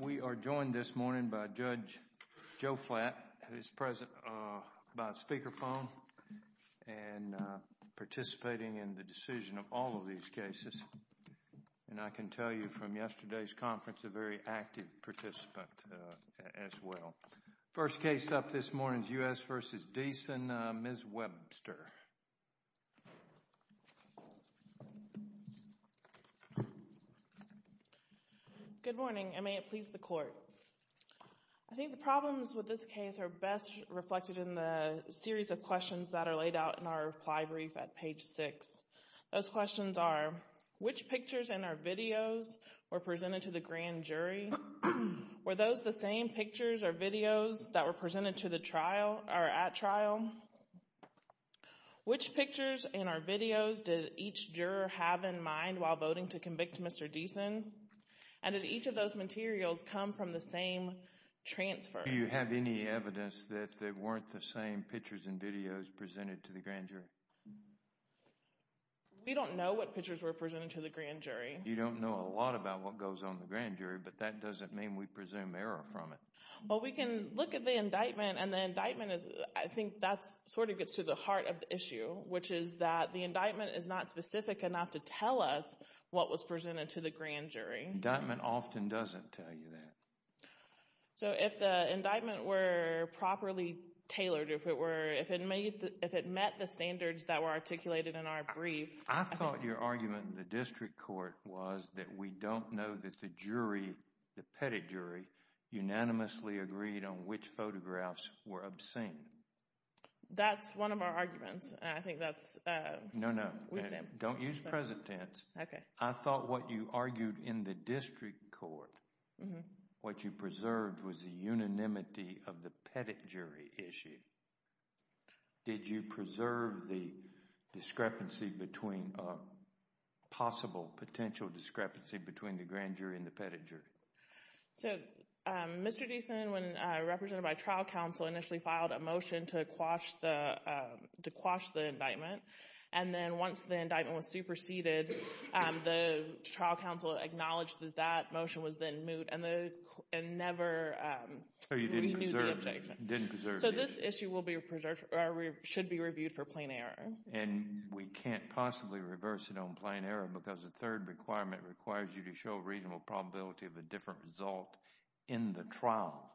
We are joined this morning by Judge Joe Flatt, who is present by speakerphone and participating in the decision of all of these cases. And I can tell you from yesterday's conference, a very active participant as well. First case up this morning is U.S. v. Deason, Ms. Webster. Ms. Webster Good morning, and may it please the court. I think the problems with this case are best reflected in the series of questions that are laid out in our reply brief at page 6. Those questions are, which pictures in our videos were presented to the grand jury? Were those the same pictures or videos that were presented to the trial or at trial? Which pictures in our videos did each juror have in mind while voting to convict Mr. Deason? And did each of those materials come from the same transfer? Do you have any evidence that they weren't the same pictures and videos presented to the grand jury? We don't know what pictures were presented to the grand jury. You don't know a lot about what goes on the grand jury, but that doesn't mean we presume error from it. Well, we can look at the indictment, and the indictment is, I think that sort of gets to the heart of the issue, which is that the indictment is not specific enough to tell us what was presented to the grand jury. Indictment often doesn't tell you that. So if the indictment were properly tailored, if it were, if it made, if it met the standards that were articulated in our brief. I thought your argument in the district court was that we don't know that the jury, the pettit jury, unanimously agreed on which photographs were obscene. That's one of our arguments, and I think that's, uh. No, no, don't use present tense. Okay. I thought what you argued in the district court, what you preserved was the unanimity of the pettit jury issue. Did you preserve the discrepancy between, uh, possible potential discrepancy between the grand jury and the pettit jury? So, um, Mr. Deason, when, uh, represented by trial counsel, initially filed a motion to quash the, uh, to quash the indictment, and then once the indictment was superseded, um, the trial counsel acknowledged that that motion was then moot, and the, and never, um, renewed the indictment. So you didn't preserve, didn't preserve it. So this issue will be preserved, or should be reviewed for plain error. And we can't possibly reverse it on plain error because the third requirement requires you to show a reasonable probability of a different result in the trial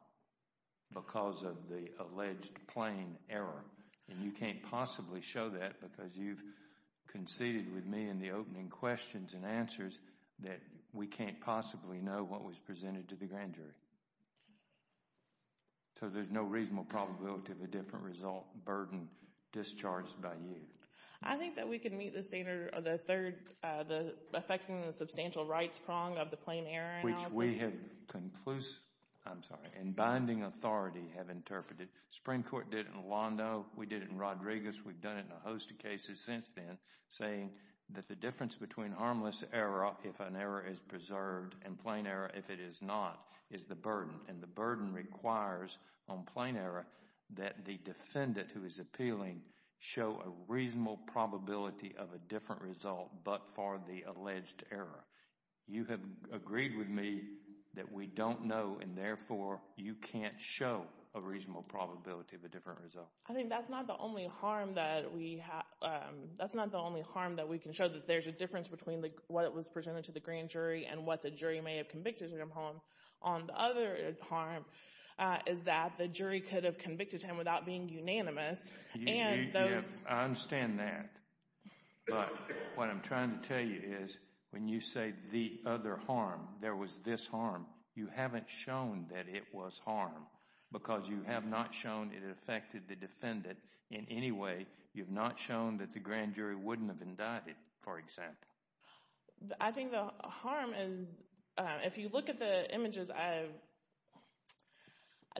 because of the alleged plain error, and you can't possibly show that because you've conceded with me in the opening questions and answers that we can't possibly know what was presented to the grand jury. So there's no reasonable probability of a different result burden discharged by you? I think that we can meet the standard, or the third, uh, the, affecting the substantial rights prong of the plain error analysis. Which we have conclusive, I'm sorry, in binding authority have interpreted. Supreme Court did it in Alondo. We did it in Rodriguez. We've done it in a host of cases since then, saying that the difference between harmless error, if an error is preserved, and plain error, if it is not, is the difference between the burden, and the burden requires on plain error that the defendant who is appealing show a reasonable probability of a different result but for the alleged error. You have agreed with me that we don't know, and therefore, you can't show a reasonable probability of a different result. I think that's not the only harm that we have, um, that's not the only harm that we can show, that there's a difference between what was presented to the grand jury and what the jury may have convicted him on. On the other harm, uh, is that the jury could have convicted him without being unanimous, You, you, you, I understand that, but what I'm trying to tell you is, when you say the other harm, there was this harm, you haven't shown that it was harm. Because you have not shown it affected the defendant in any way, you've not shown that the grand jury wouldn't have indicted, for example. I think the harm is, um, if you look at the images, I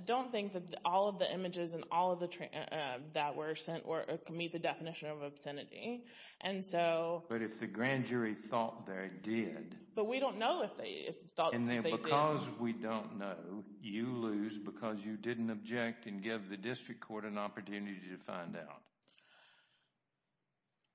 don't think that all of the images and all of the, uh, that were sent were, could meet the definition of obscenity, and so, But if the grand jury thought they did. But we don't know if they thought that they did. And then because we don't know, you lose because you didn't object and give the district court an opportunity to find out.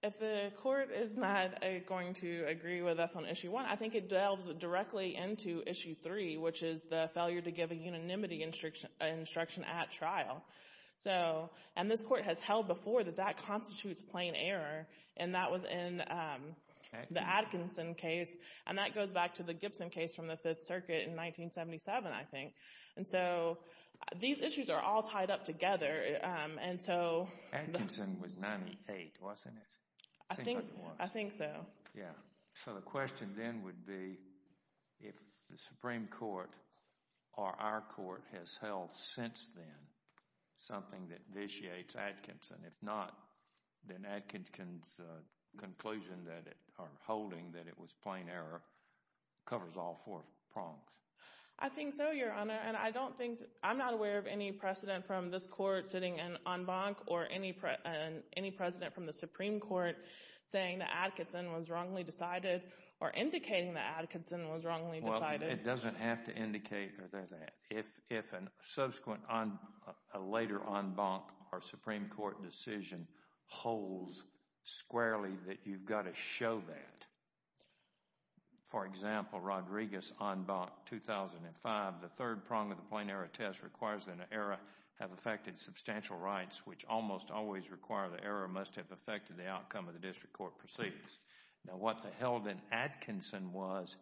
If the court is not going to agree with us on issue one, I think it delves directly into issue three, which is the failure to give a unanimity instruction at trial. So, and this court has held before that that constitutes plain error. And that was in, um, the Atkinson case. And that goes back to the Gibson case from the Fifth Circuit in 1977, I think. And so, these issues are all tied up together. And so, Atkinson was 98, wasn't it? I think so. Yeah. So the question then would be, if the Supreme Court or our court has held since then something that vitiates Atkinson. If not, then Atkinson's conclusion that it, or holding that it was plain error, covers all four prongs. I think so, Your Honor. And I don't think, I'm not aware of any precedent from this court sitting in en banc or any, any precedent from the Supreme Court saying that Atkinson was wrongly decided or indicating that Atkinson was wrongly decided. It doesn't have to indicate that. If, if a subsequent, a later en banc or Supreme Court decision holds squarely, that you've got to show that. For example, Rodriguez, en banc 2005. The third prong of the plain error test requires that an error have affected substantial rights, which almost always require the error must have affected the outcome of the district court proceedings. Now, what they held in Atkinson was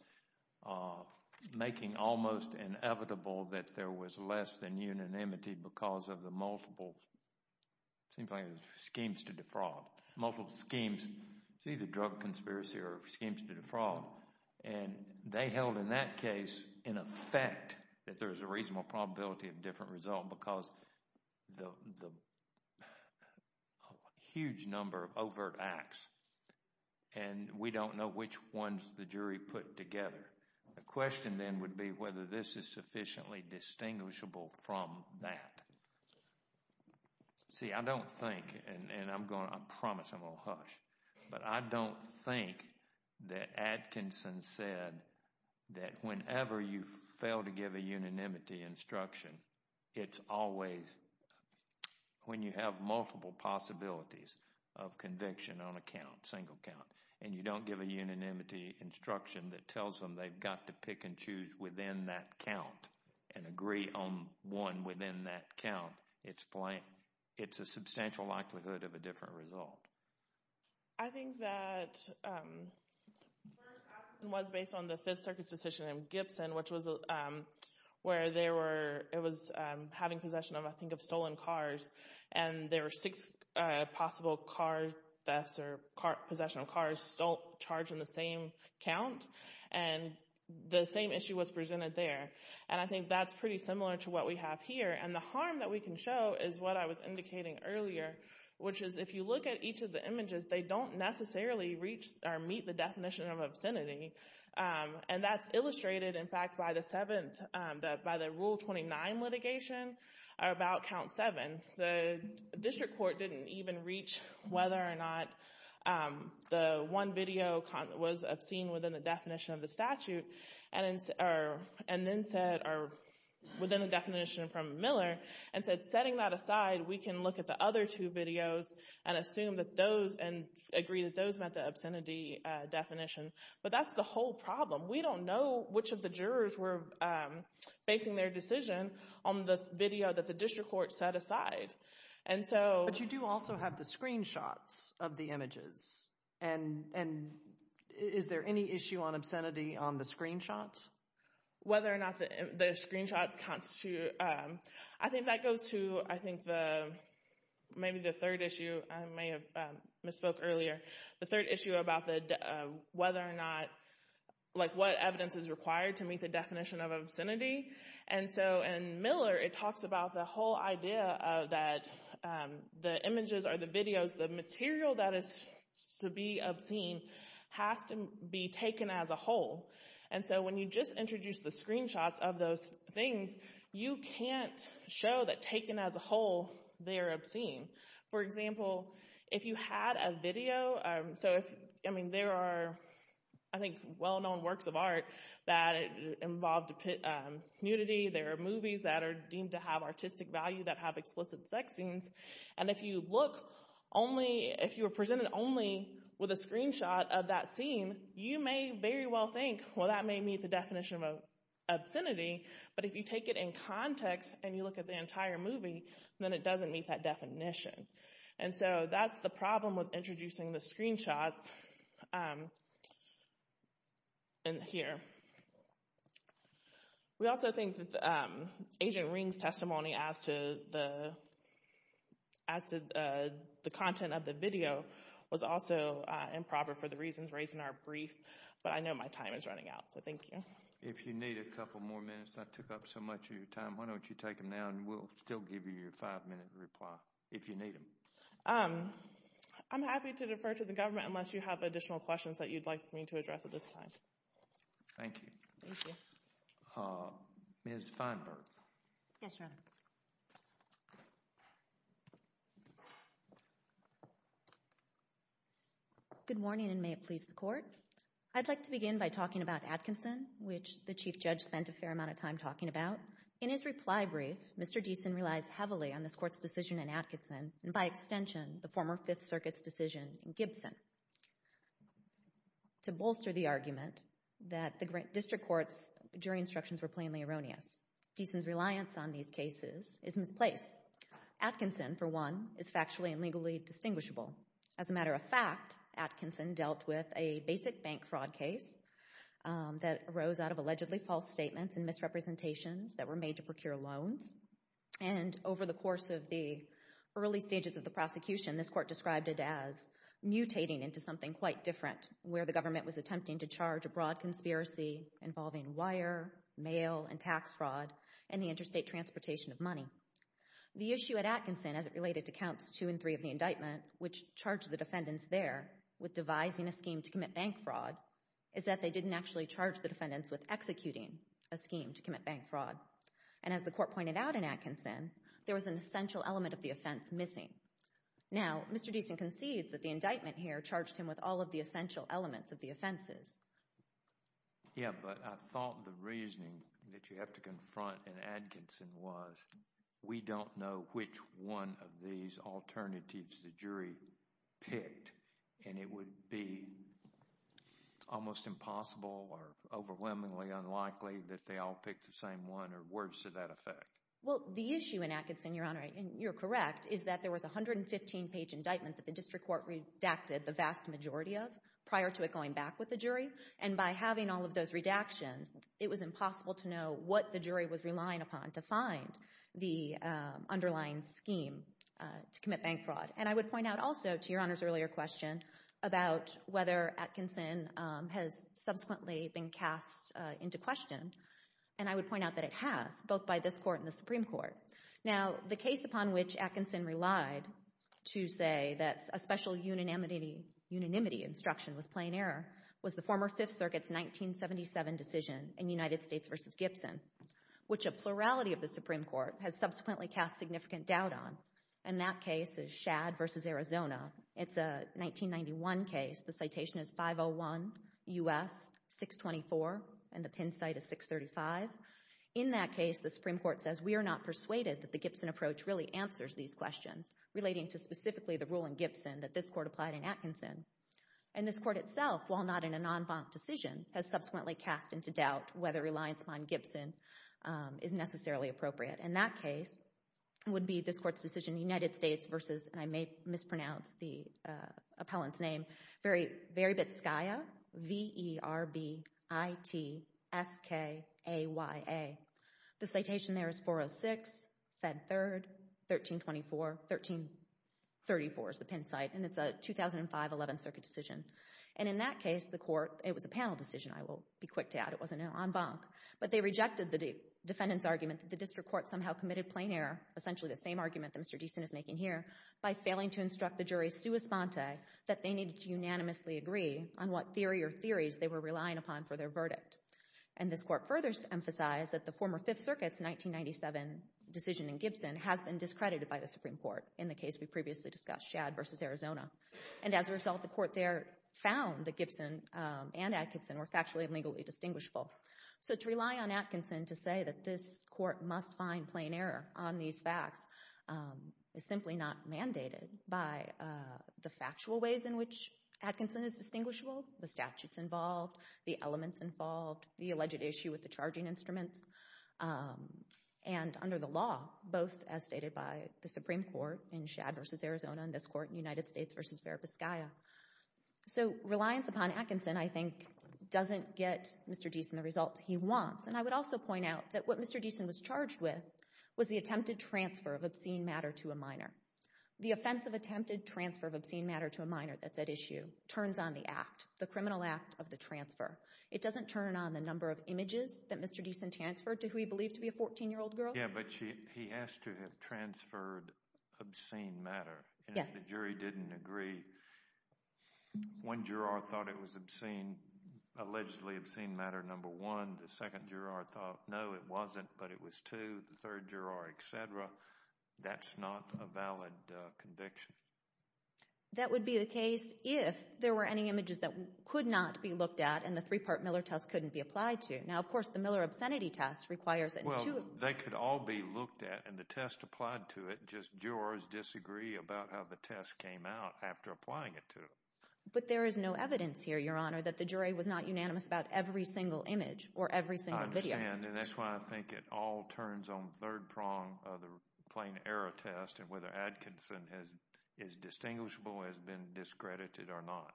making almost inevitable that there was less than unanimity because of the multiple, seems like it was schemes to defraud. Multiple schemes, it's either drug conspiracy or schemes to defraud. And they held in that case, in effect, that there's a reasonable probability of different result because the, the huge number of overt acts. And we don't know which ones the jury put together. The question then would be whether this is sufficiently distinguishable from that. See, I don't think, and I'm going, I promise I'm going to hush. But I don't think that Atkinson said that whenever you fail to give a unanimity instruction, it's always when you have multiple possibilities of conviction on a count, single count, and you don't give a unanimity instruction that tells them they've got to pick and choose within that count and agree on one within that count. It's plain, it's a substantial likelihood of a different result. I think that first Atkinson was based on the Fifth Circuit's decision in Gibson, which was where they were, it was having possession of, I think, of stolen cars. And there were six possible car thefts or possession of cars still charged in the same count. And the same issue was presented there. And I think that's pretty similar to what we have here. And the harm that we can show is what I was indicating earlier, which is if you look at each of the images, they don't necessarily reach or meet the definition of obscenity. And that's illustrated, in fact, by the seventh, by the Rule 29 litigation about count seven. The district court didn't even reach whether or not the one video was obscene within the definition of the statute, and then said, or within the definition from Miller, and said, setting that aside, we can look at the other two videos and assume that those, and agree that those met the obscenity definition. But that's the whole problem. We don't know which of the jurors were facing their decision on the video that the district court set aside. And so... Is there any issue on obscenity on the screenshots? Whether or not the screenshots constitute... I think that goes to, I think, maybe the third issue. I may have misspoke earlier. The third issue about whether or not, like what evidence is required to meet the definition of obscenity. And so in Miller, it talks about the whole idea of that the images or the videos, the material that is to be obscene has to be taken as a whole. And so when you just introduce the screenshots of those things, you can't show that taken as a whole, they're obscene. For example, if you had a video, so if, I mean, there are, I think, well-known works of art that involved nudity. There are movies that are deemed to have artistic value that have explicit sex scenes. And if you look only, if you were presented only with a screenshot of that scene, you may very well think, well, that may meet the definition of obscenity. But if you take it in context and you look at the entire movie, then it doesn't meet that definition. And so that's the problem with introducing the screenshots in here. We also think that Agent Ring's testimony as to the content of the video was also improper for the reasons raised in our brief. But I know my time is running out. So thank you. If you need a couple more minutes, I took up so much of your time. Why don't you take them now and we'll still give you your five-minute reply if you need them. I'm happy to defer to the government unless you have additional questions that you'd like me to address at this time. Thank you. Thank you. Ms. Feinberg. Yes, Your Honor. Good morning, and may it please the Court. I'd like to begin by talking about Atkinson, which the Chief Judge spent a fair amount of time talking about. In his reply brief, Mr. Deason relies heavily on this Court's decision in Atkinson, and by extension, the former Fifth Circuit's decision in Gibson. And to bolster the argument that the district courts' jury instructions were plainly erroneous. Deason's reliance on these cases is misplaced. Atkinson, for one, is factually and legally distinguishable. As a matter of fact, Atkinson dealt with a basic bank fraud case that arose out of allegedly false statements and misrepresentations that were made to procure loans. And over the course of the early stages of the prosecution, this Court described it as mutating into something quite different, where the government was attempting to charge a broad conspiracy involving wire, mail, and tax fraud, and the interstate transportation of money. The issue at Atkinson, as it related to Counts 2 and 3 of the indictment, which charged the defendants there with devising a scheme to commit bank fraud, is that they didn't actually charge the defendants with executing a scheme to commit bank fraud. And as the Court pointed out in Atkinson, there was an essential element of the offense missing. Now, Mr. Deason concedes that the indictment here charged him with all of the essential elements of the offenses. Yeah, but I thought the reasoning that you have to confront in Atkinson was we don't know which one of these alternatives the jury picked. And it would be almost impossible or overwhelmingly unlikely that they all picked the same one or worse to that effect. Well, the issue in Atkinson, Your Honor, and you're correct, is that there was a 115-page indictment that the District Court redacted the vast majority of prior to it going back with the jury. And by having all of those redactions, it was impossible to know what the jury was relying upon to find the underlying scheme to commit bank fraud. And I would point out also to Your Honor's earlier question about whether Atkinson has subsequently been cast into question. And I would point out that it has, both by this Court and the Supreme Court. Now, the case upon which Atkinson relied to say that a special unanimity instruction was plain error was the former Fifth Circuit's 1977 decision in United States v. Gibson, which a plurality of the Supreme Court has subsequently cast significant doubt on. And that case is Shad v. Arizona. It's a 1991 case. The citation is 501 U.S. 624, and the pin site is 635. In that case, the Supreme Court says, we are not persuaded that the Gibson approach really answers these questions relating to specifically the rule in Gibson that this Court applied in Atkinson. And this Court itself, while not in a non-bonk decision, has subsequently cast into doubt whether reliance upon Gibson is necessarily appropriate. And that case would be this Court's decision in United States v. I may mispronounce the appellant's name, Verbitskaya, V-E-R-B-I-T-S-K-A-Y-A. The citation there is 406, Fed Third, 1324. 1334 is the pin site, and it's a 2005 11th Circuit decision. And in that case, the Court, it was a panel decision, I will be quick to add. It wasn't a non-bonk. But they rejected the defendant's argument that the District Court somehow committed plain error, essentially the same argument that Mr. Deason is making here, by failing to instruct the jury's sua sponte that they needed to unanimously agree on what theory or theories they were relying upon for their verdict. And this Court further emphasized that the former Fifth Circuit's 1997 decision in Gibson has been discredited by the Supreme Court in the case we previously discussed, Shad v. Arizona. And as a result, the Court there found that Gibson and Atkinson were factually and legally indistinguishable. So to rely on Atkinson to say that this Court must find plain error on these facts is simply not mandated by the factual ways in which Atkinson is distinguishable, the statutes involved, the elements involved, the alleged issue with the charging instruments, and under the law, both as stated by the Supreme Court in Shad v. Arizona and this Court in United States v. Verapiscaya. So reliance upon Atkinson, I think, doesn't get Mr. Deason the results he wants. And I would also point out that what Mr. Deason was charged with was the attempted transfer of obscene matter to a minor. The offense of attempted transfer of obscene matter to a minor that's at issue turns on the act, the criminal act of the transfer. It doesn't turn on the number of images that Mr. Deason transferred to who he believed to be a 14-year-old girl. Yeah, but he asked to have transferred obscene matter. Yes. The jury didn't agree. One juror thought it was obscene, allegedly obscene matter, number one. The second juror thought, no, it wasn't, but it was two. The third juror, et cetera. That's not a valid conviction. That would be the case if there were any images that could not be looked at and the three-part Miller test couldn't be applied to. Now, of course, the Miller obscenity test requires it. Well, they could all be looked at and the test applied to it. Jurors disagree about how the test came out after applying it to them. But there is no evidence here, Your Honor, that the jury was not unanimous about every single image or every single video. I understand, and that's why I think it all turns on third prong of the plain error test and whether Atkinson is distinguishable, has been discredited or not.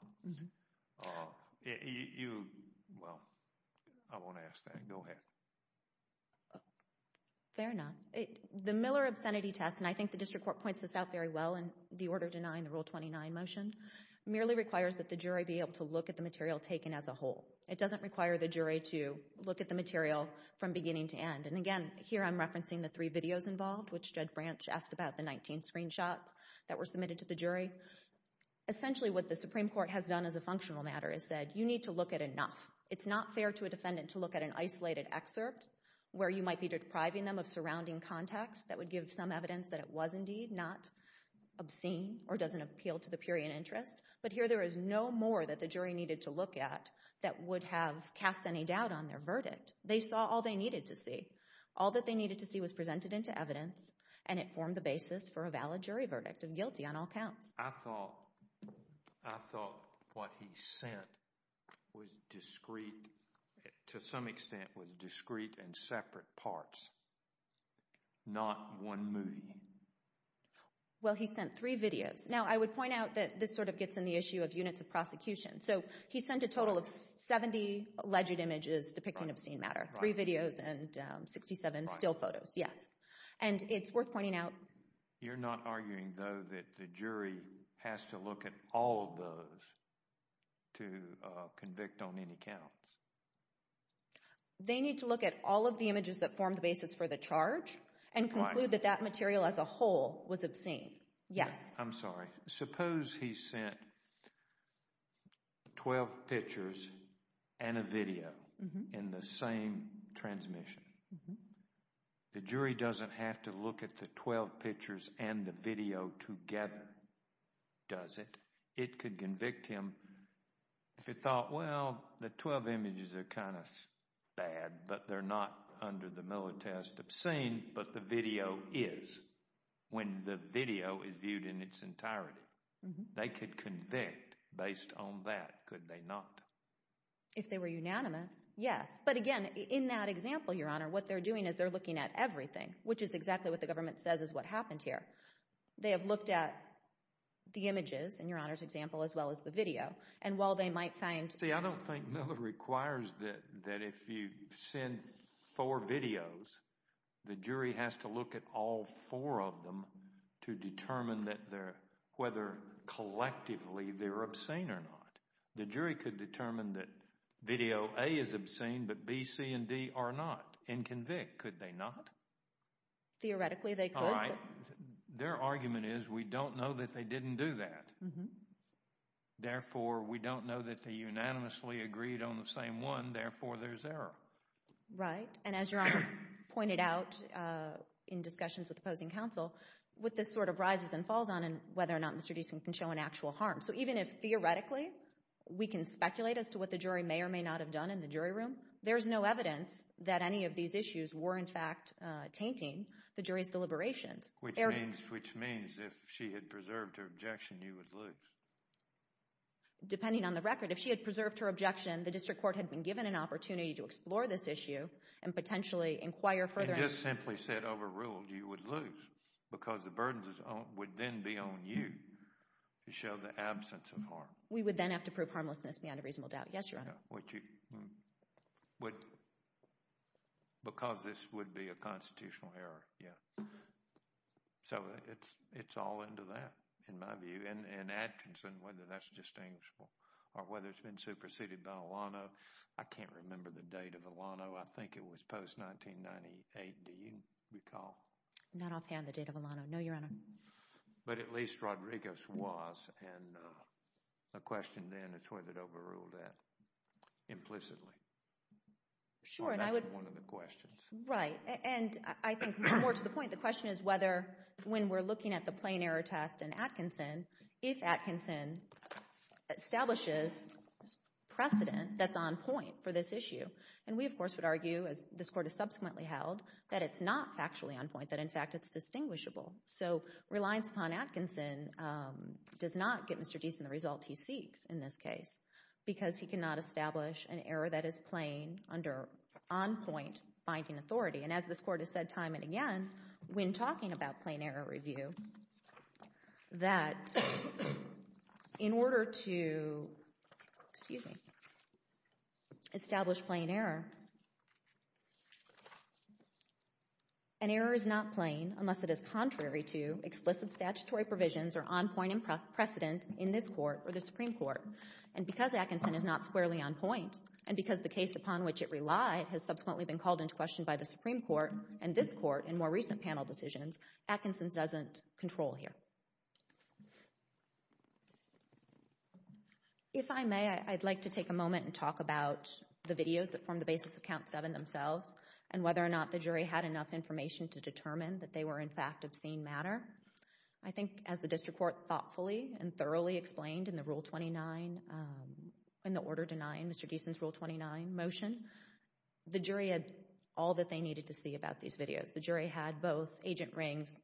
Well, I won't ask that. Go ahead. Fair enough. The Miller obscenity test, and I think the district court points this out very well in the order denying the Rule 29 motion, merely requires that the jury be able to look at the material taken as a whole. It doesn't require the jury to look at the material from beginning to end. And again, here I'm referencing the three videos involved, which Judge Branch asked about the 19 screenshots that were submitted to the jury. Essentially, what the Supreme Court has done as a functional matter is said, you need to look at enough. It's not fair to a defendant to look at an isolated excerpt where you might be depriving them of surrounding context that would give some evidence that it was indeed not obscene or doesn't appeal to the period interest. But here there is no more that the jury needed to look at that would have cast any doubt on their verdict. They saw all they needed to see. All that they needed to see was presented into evidence and it formed the basis for a valid jury verdict of guilty on all counts. I thought, I thought what he sent was discrete, to some extent was discrete and separate parts, not one movie. Well, he sent three videos. Now, I would point out that this sort of gets in the issue of units of prosecution. So he sent a total of 70 alleged images depicting obscene matter, three videos and 67 still photos. Yes. And it's worth pointing out. You're not arguing, though, that the jury has to look at all of those to convict on any counts. They need to look at all of the images that form the basis for the charge and conclude that that material as a whole was obscene. Yes. I'm sorry. Suppose he sent 12 pictures and a video in the same transmission. Mm hmm. The jury doesn't have to look at the 12 pictures and the video together, does it? It could convict him if he thought, well, the 12 images are kind of bad, but they're not under the Miller test obscene, but the video is when the video is viewed in its entirety. They could convict based on that, could they not? If they were unanimous, yes. But again, in that example, Your Honor, what they're doing is they're looking at everything, which is exactly what the government says is what happened here. They have looked at the images, in Your Honor's example, as well as the video. And while they might find... See, I don't think Miller requires that if you send four videos, the jury has to look at all four of them to determine that they're, whether collectively they're obscene or not. The jury could determine that video A is obscene, but B, C, and D are not and convict, could they not? Theoretically, they could. All right. Their argument is we don't know that they didn't do that. Therefore, we don't know that they unanimously agreed on the same one. Therefore, there's error. Right. And as Your Honor pointed out in discussions with opposing counsel, what this sort of rises and falls on and whether or not Mr. Deason can show an actual harm. So even if theoretically we can speculate as to what the jury may or may not have done in the jury room, there's no evidence that any of these issues were in fact tainting the jury's deliberations. Which means, which means if she had preserved her objection, you would lose. Depending on the record, if she had preserved her objection, the district court had been given an opportunity to explore this issue and potentially inquire further. You just simply said overruled, you would lose because the burden would then be on you to show the absence of harm. We would then have to prove harmlessness beyond a reasonable doubt. Yes, Your Honor. Because this would be a constitutional error. Yeah. So it's all into that, in my view. And Atkinson, whether that's distinguishable or whether it's been superseded by Alano, I can't remember the date of Alano. I think it was post-1998. Do you recall? Not offhand, the date of Alano. No, Your Honor. But at least Rodriguez was. And the question then is whether it overruled that implicitly. Sure, and I would— That's one of the questions. Right. And I think more to the point, the question is whether when we're looking at the plain error test in Atkinson, if Atkinson establishes precedent that's on point for this issue. And we, of course, would argue, as this Court has subsequently held, that it's not factually on point, that in fact it's distinguishable. So reliance upon Atkinson does not get Mr. Deason the result he seeks in this case because he cannot establish an error that is plain under on-point binding authority. And as this Court has said time and again, when talking about plain error review, that in order to—excuse me—establish plain error, an error is not plain unless it is contrary to explicit statutory provisions or on-point precedent in this Court or the Supreme Court. And because Atkinson is not squarely on point, and because the case upon which it relied has subsequently been called into question by the Supreme Court and this Court in more recent panel decisions, Atkinson's doesn't control here. If I may, I'd like to take a moment and talk about the videos that formed the basis of Count 7 themselves and whether or not the jury had enough information to determine that they were, in fact, obscene matter. I think, as the District Court thoughtfully and thoroughly explained in the Rule 29, in the order denying Mr. Deason's Rule 29 motion, the jury had all that they needed to see about these videos. The jury had both Agent Ring's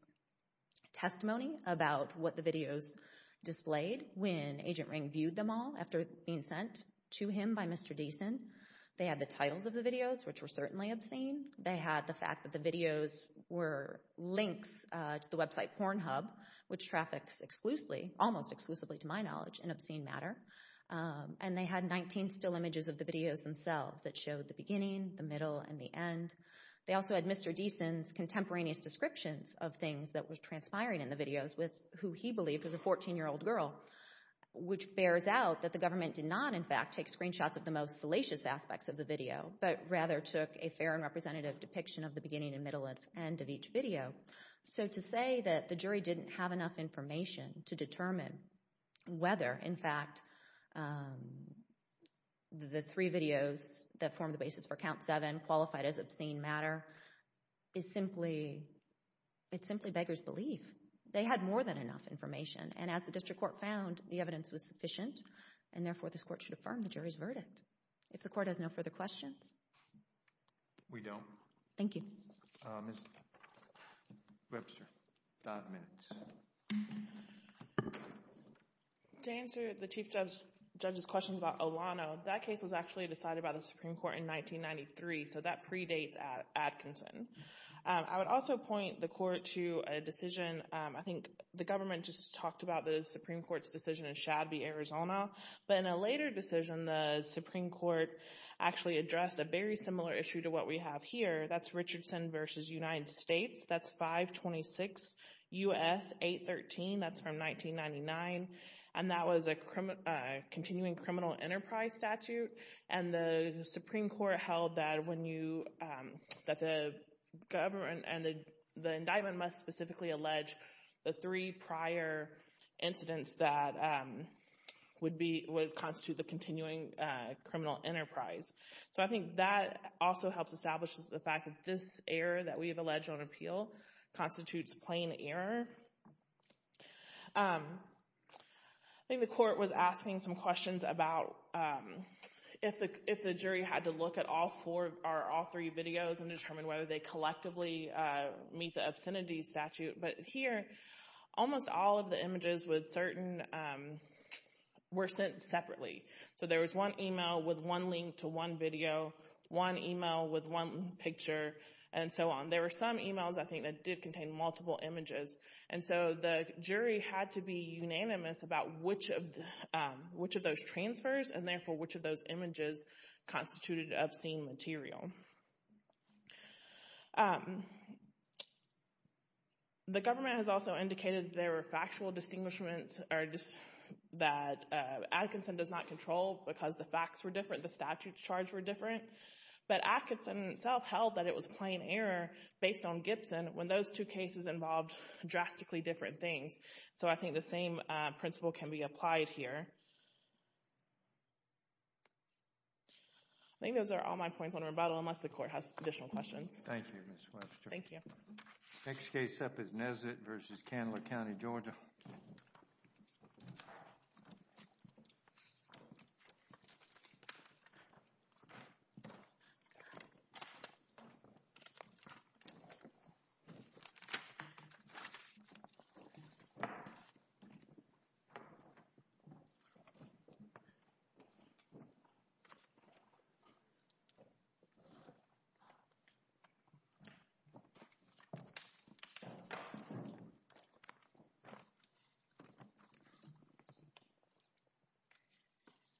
testimony about what the videos displayed when Agent Ring viewed them all after being sent to him by Mr. Deason, they had the titles of the videos, which were certainly obscene, they had the fact that the videos were links to the website Pornhub, which traffics exclusively, almost exclusively to my knowledge, in obscene matter, and they had 19 still images of the videos themselves that showed the beginning, the middle, and the end. They also had Mr. Deason's contemporaneous descriptions of things that were transpiring in the videos with who he believed was a 14-year-old girl, which bears out that the government did not, in fact, take screenshots of the most salacious aspects of the video, but rather took a fair and representative depiction of the beginning and middle and end of each video. So to say that the jury didn't have enough information to determine whether, in fact, the three videos that form the basis for Count 7, qualified as obscene matter, is simply, it's simply beggar's belief. They had more than enough information, and as the District Court found, the evidence was sufficient, and therefore this Court should affirm the jury's verdict. If the Court has no further questions. We don't. Thank you. Ms. Webster, five minutes. To answer the Chief Judge's questions about Olano, that case was actually decided by the Supreme Court in 1993, so that predates Atkinson. I would also point the Court to a decision, I think the government just talked about the Supreme Court's decision in Shadby, Arizona, but in a later decision, the Supreme Court actually addressed a very similar issue to what we have here. That's Richardson v. United States. That's 526 U.S. 813. That's from 1999, and that was a continuing criminal enterprise statute, and the Supreme Court held that when you, that the government and the indictment must specifically allege the three prior incidents that would be, would constitute the continuing criminal enterprise. So I think that also helps establish the fact that this error that we have alleged on appeal constitutes plain error. I think the Court was asking some questions about if the jury had to look at all four or all three videos and determine whether they collectively meet the obscenity statute, but here, almost all of the images with certain, were sent separately. So there was one email with one link to one video, one email with one picture, and so on. There were some emails, I think, that did contain multiple images, and so the jury had to be unanimous about which of those transfers, and therefore, which of those images constituted obscene material. The government has also indicated there were factual distinguishments that Atkinson does not control because the facts were different, the statute charge were different, but Atkinson itself held that it was plain error based on Gibson when those two cases involved drastically different things. So I think the same principle can be applied here. I think those are all my points on rebuttal, unless the Court has additional questions. Thank you, Ms. Webster. Thank you. Next case up is Nesbitt v. Candler County, Georgia. Thank you.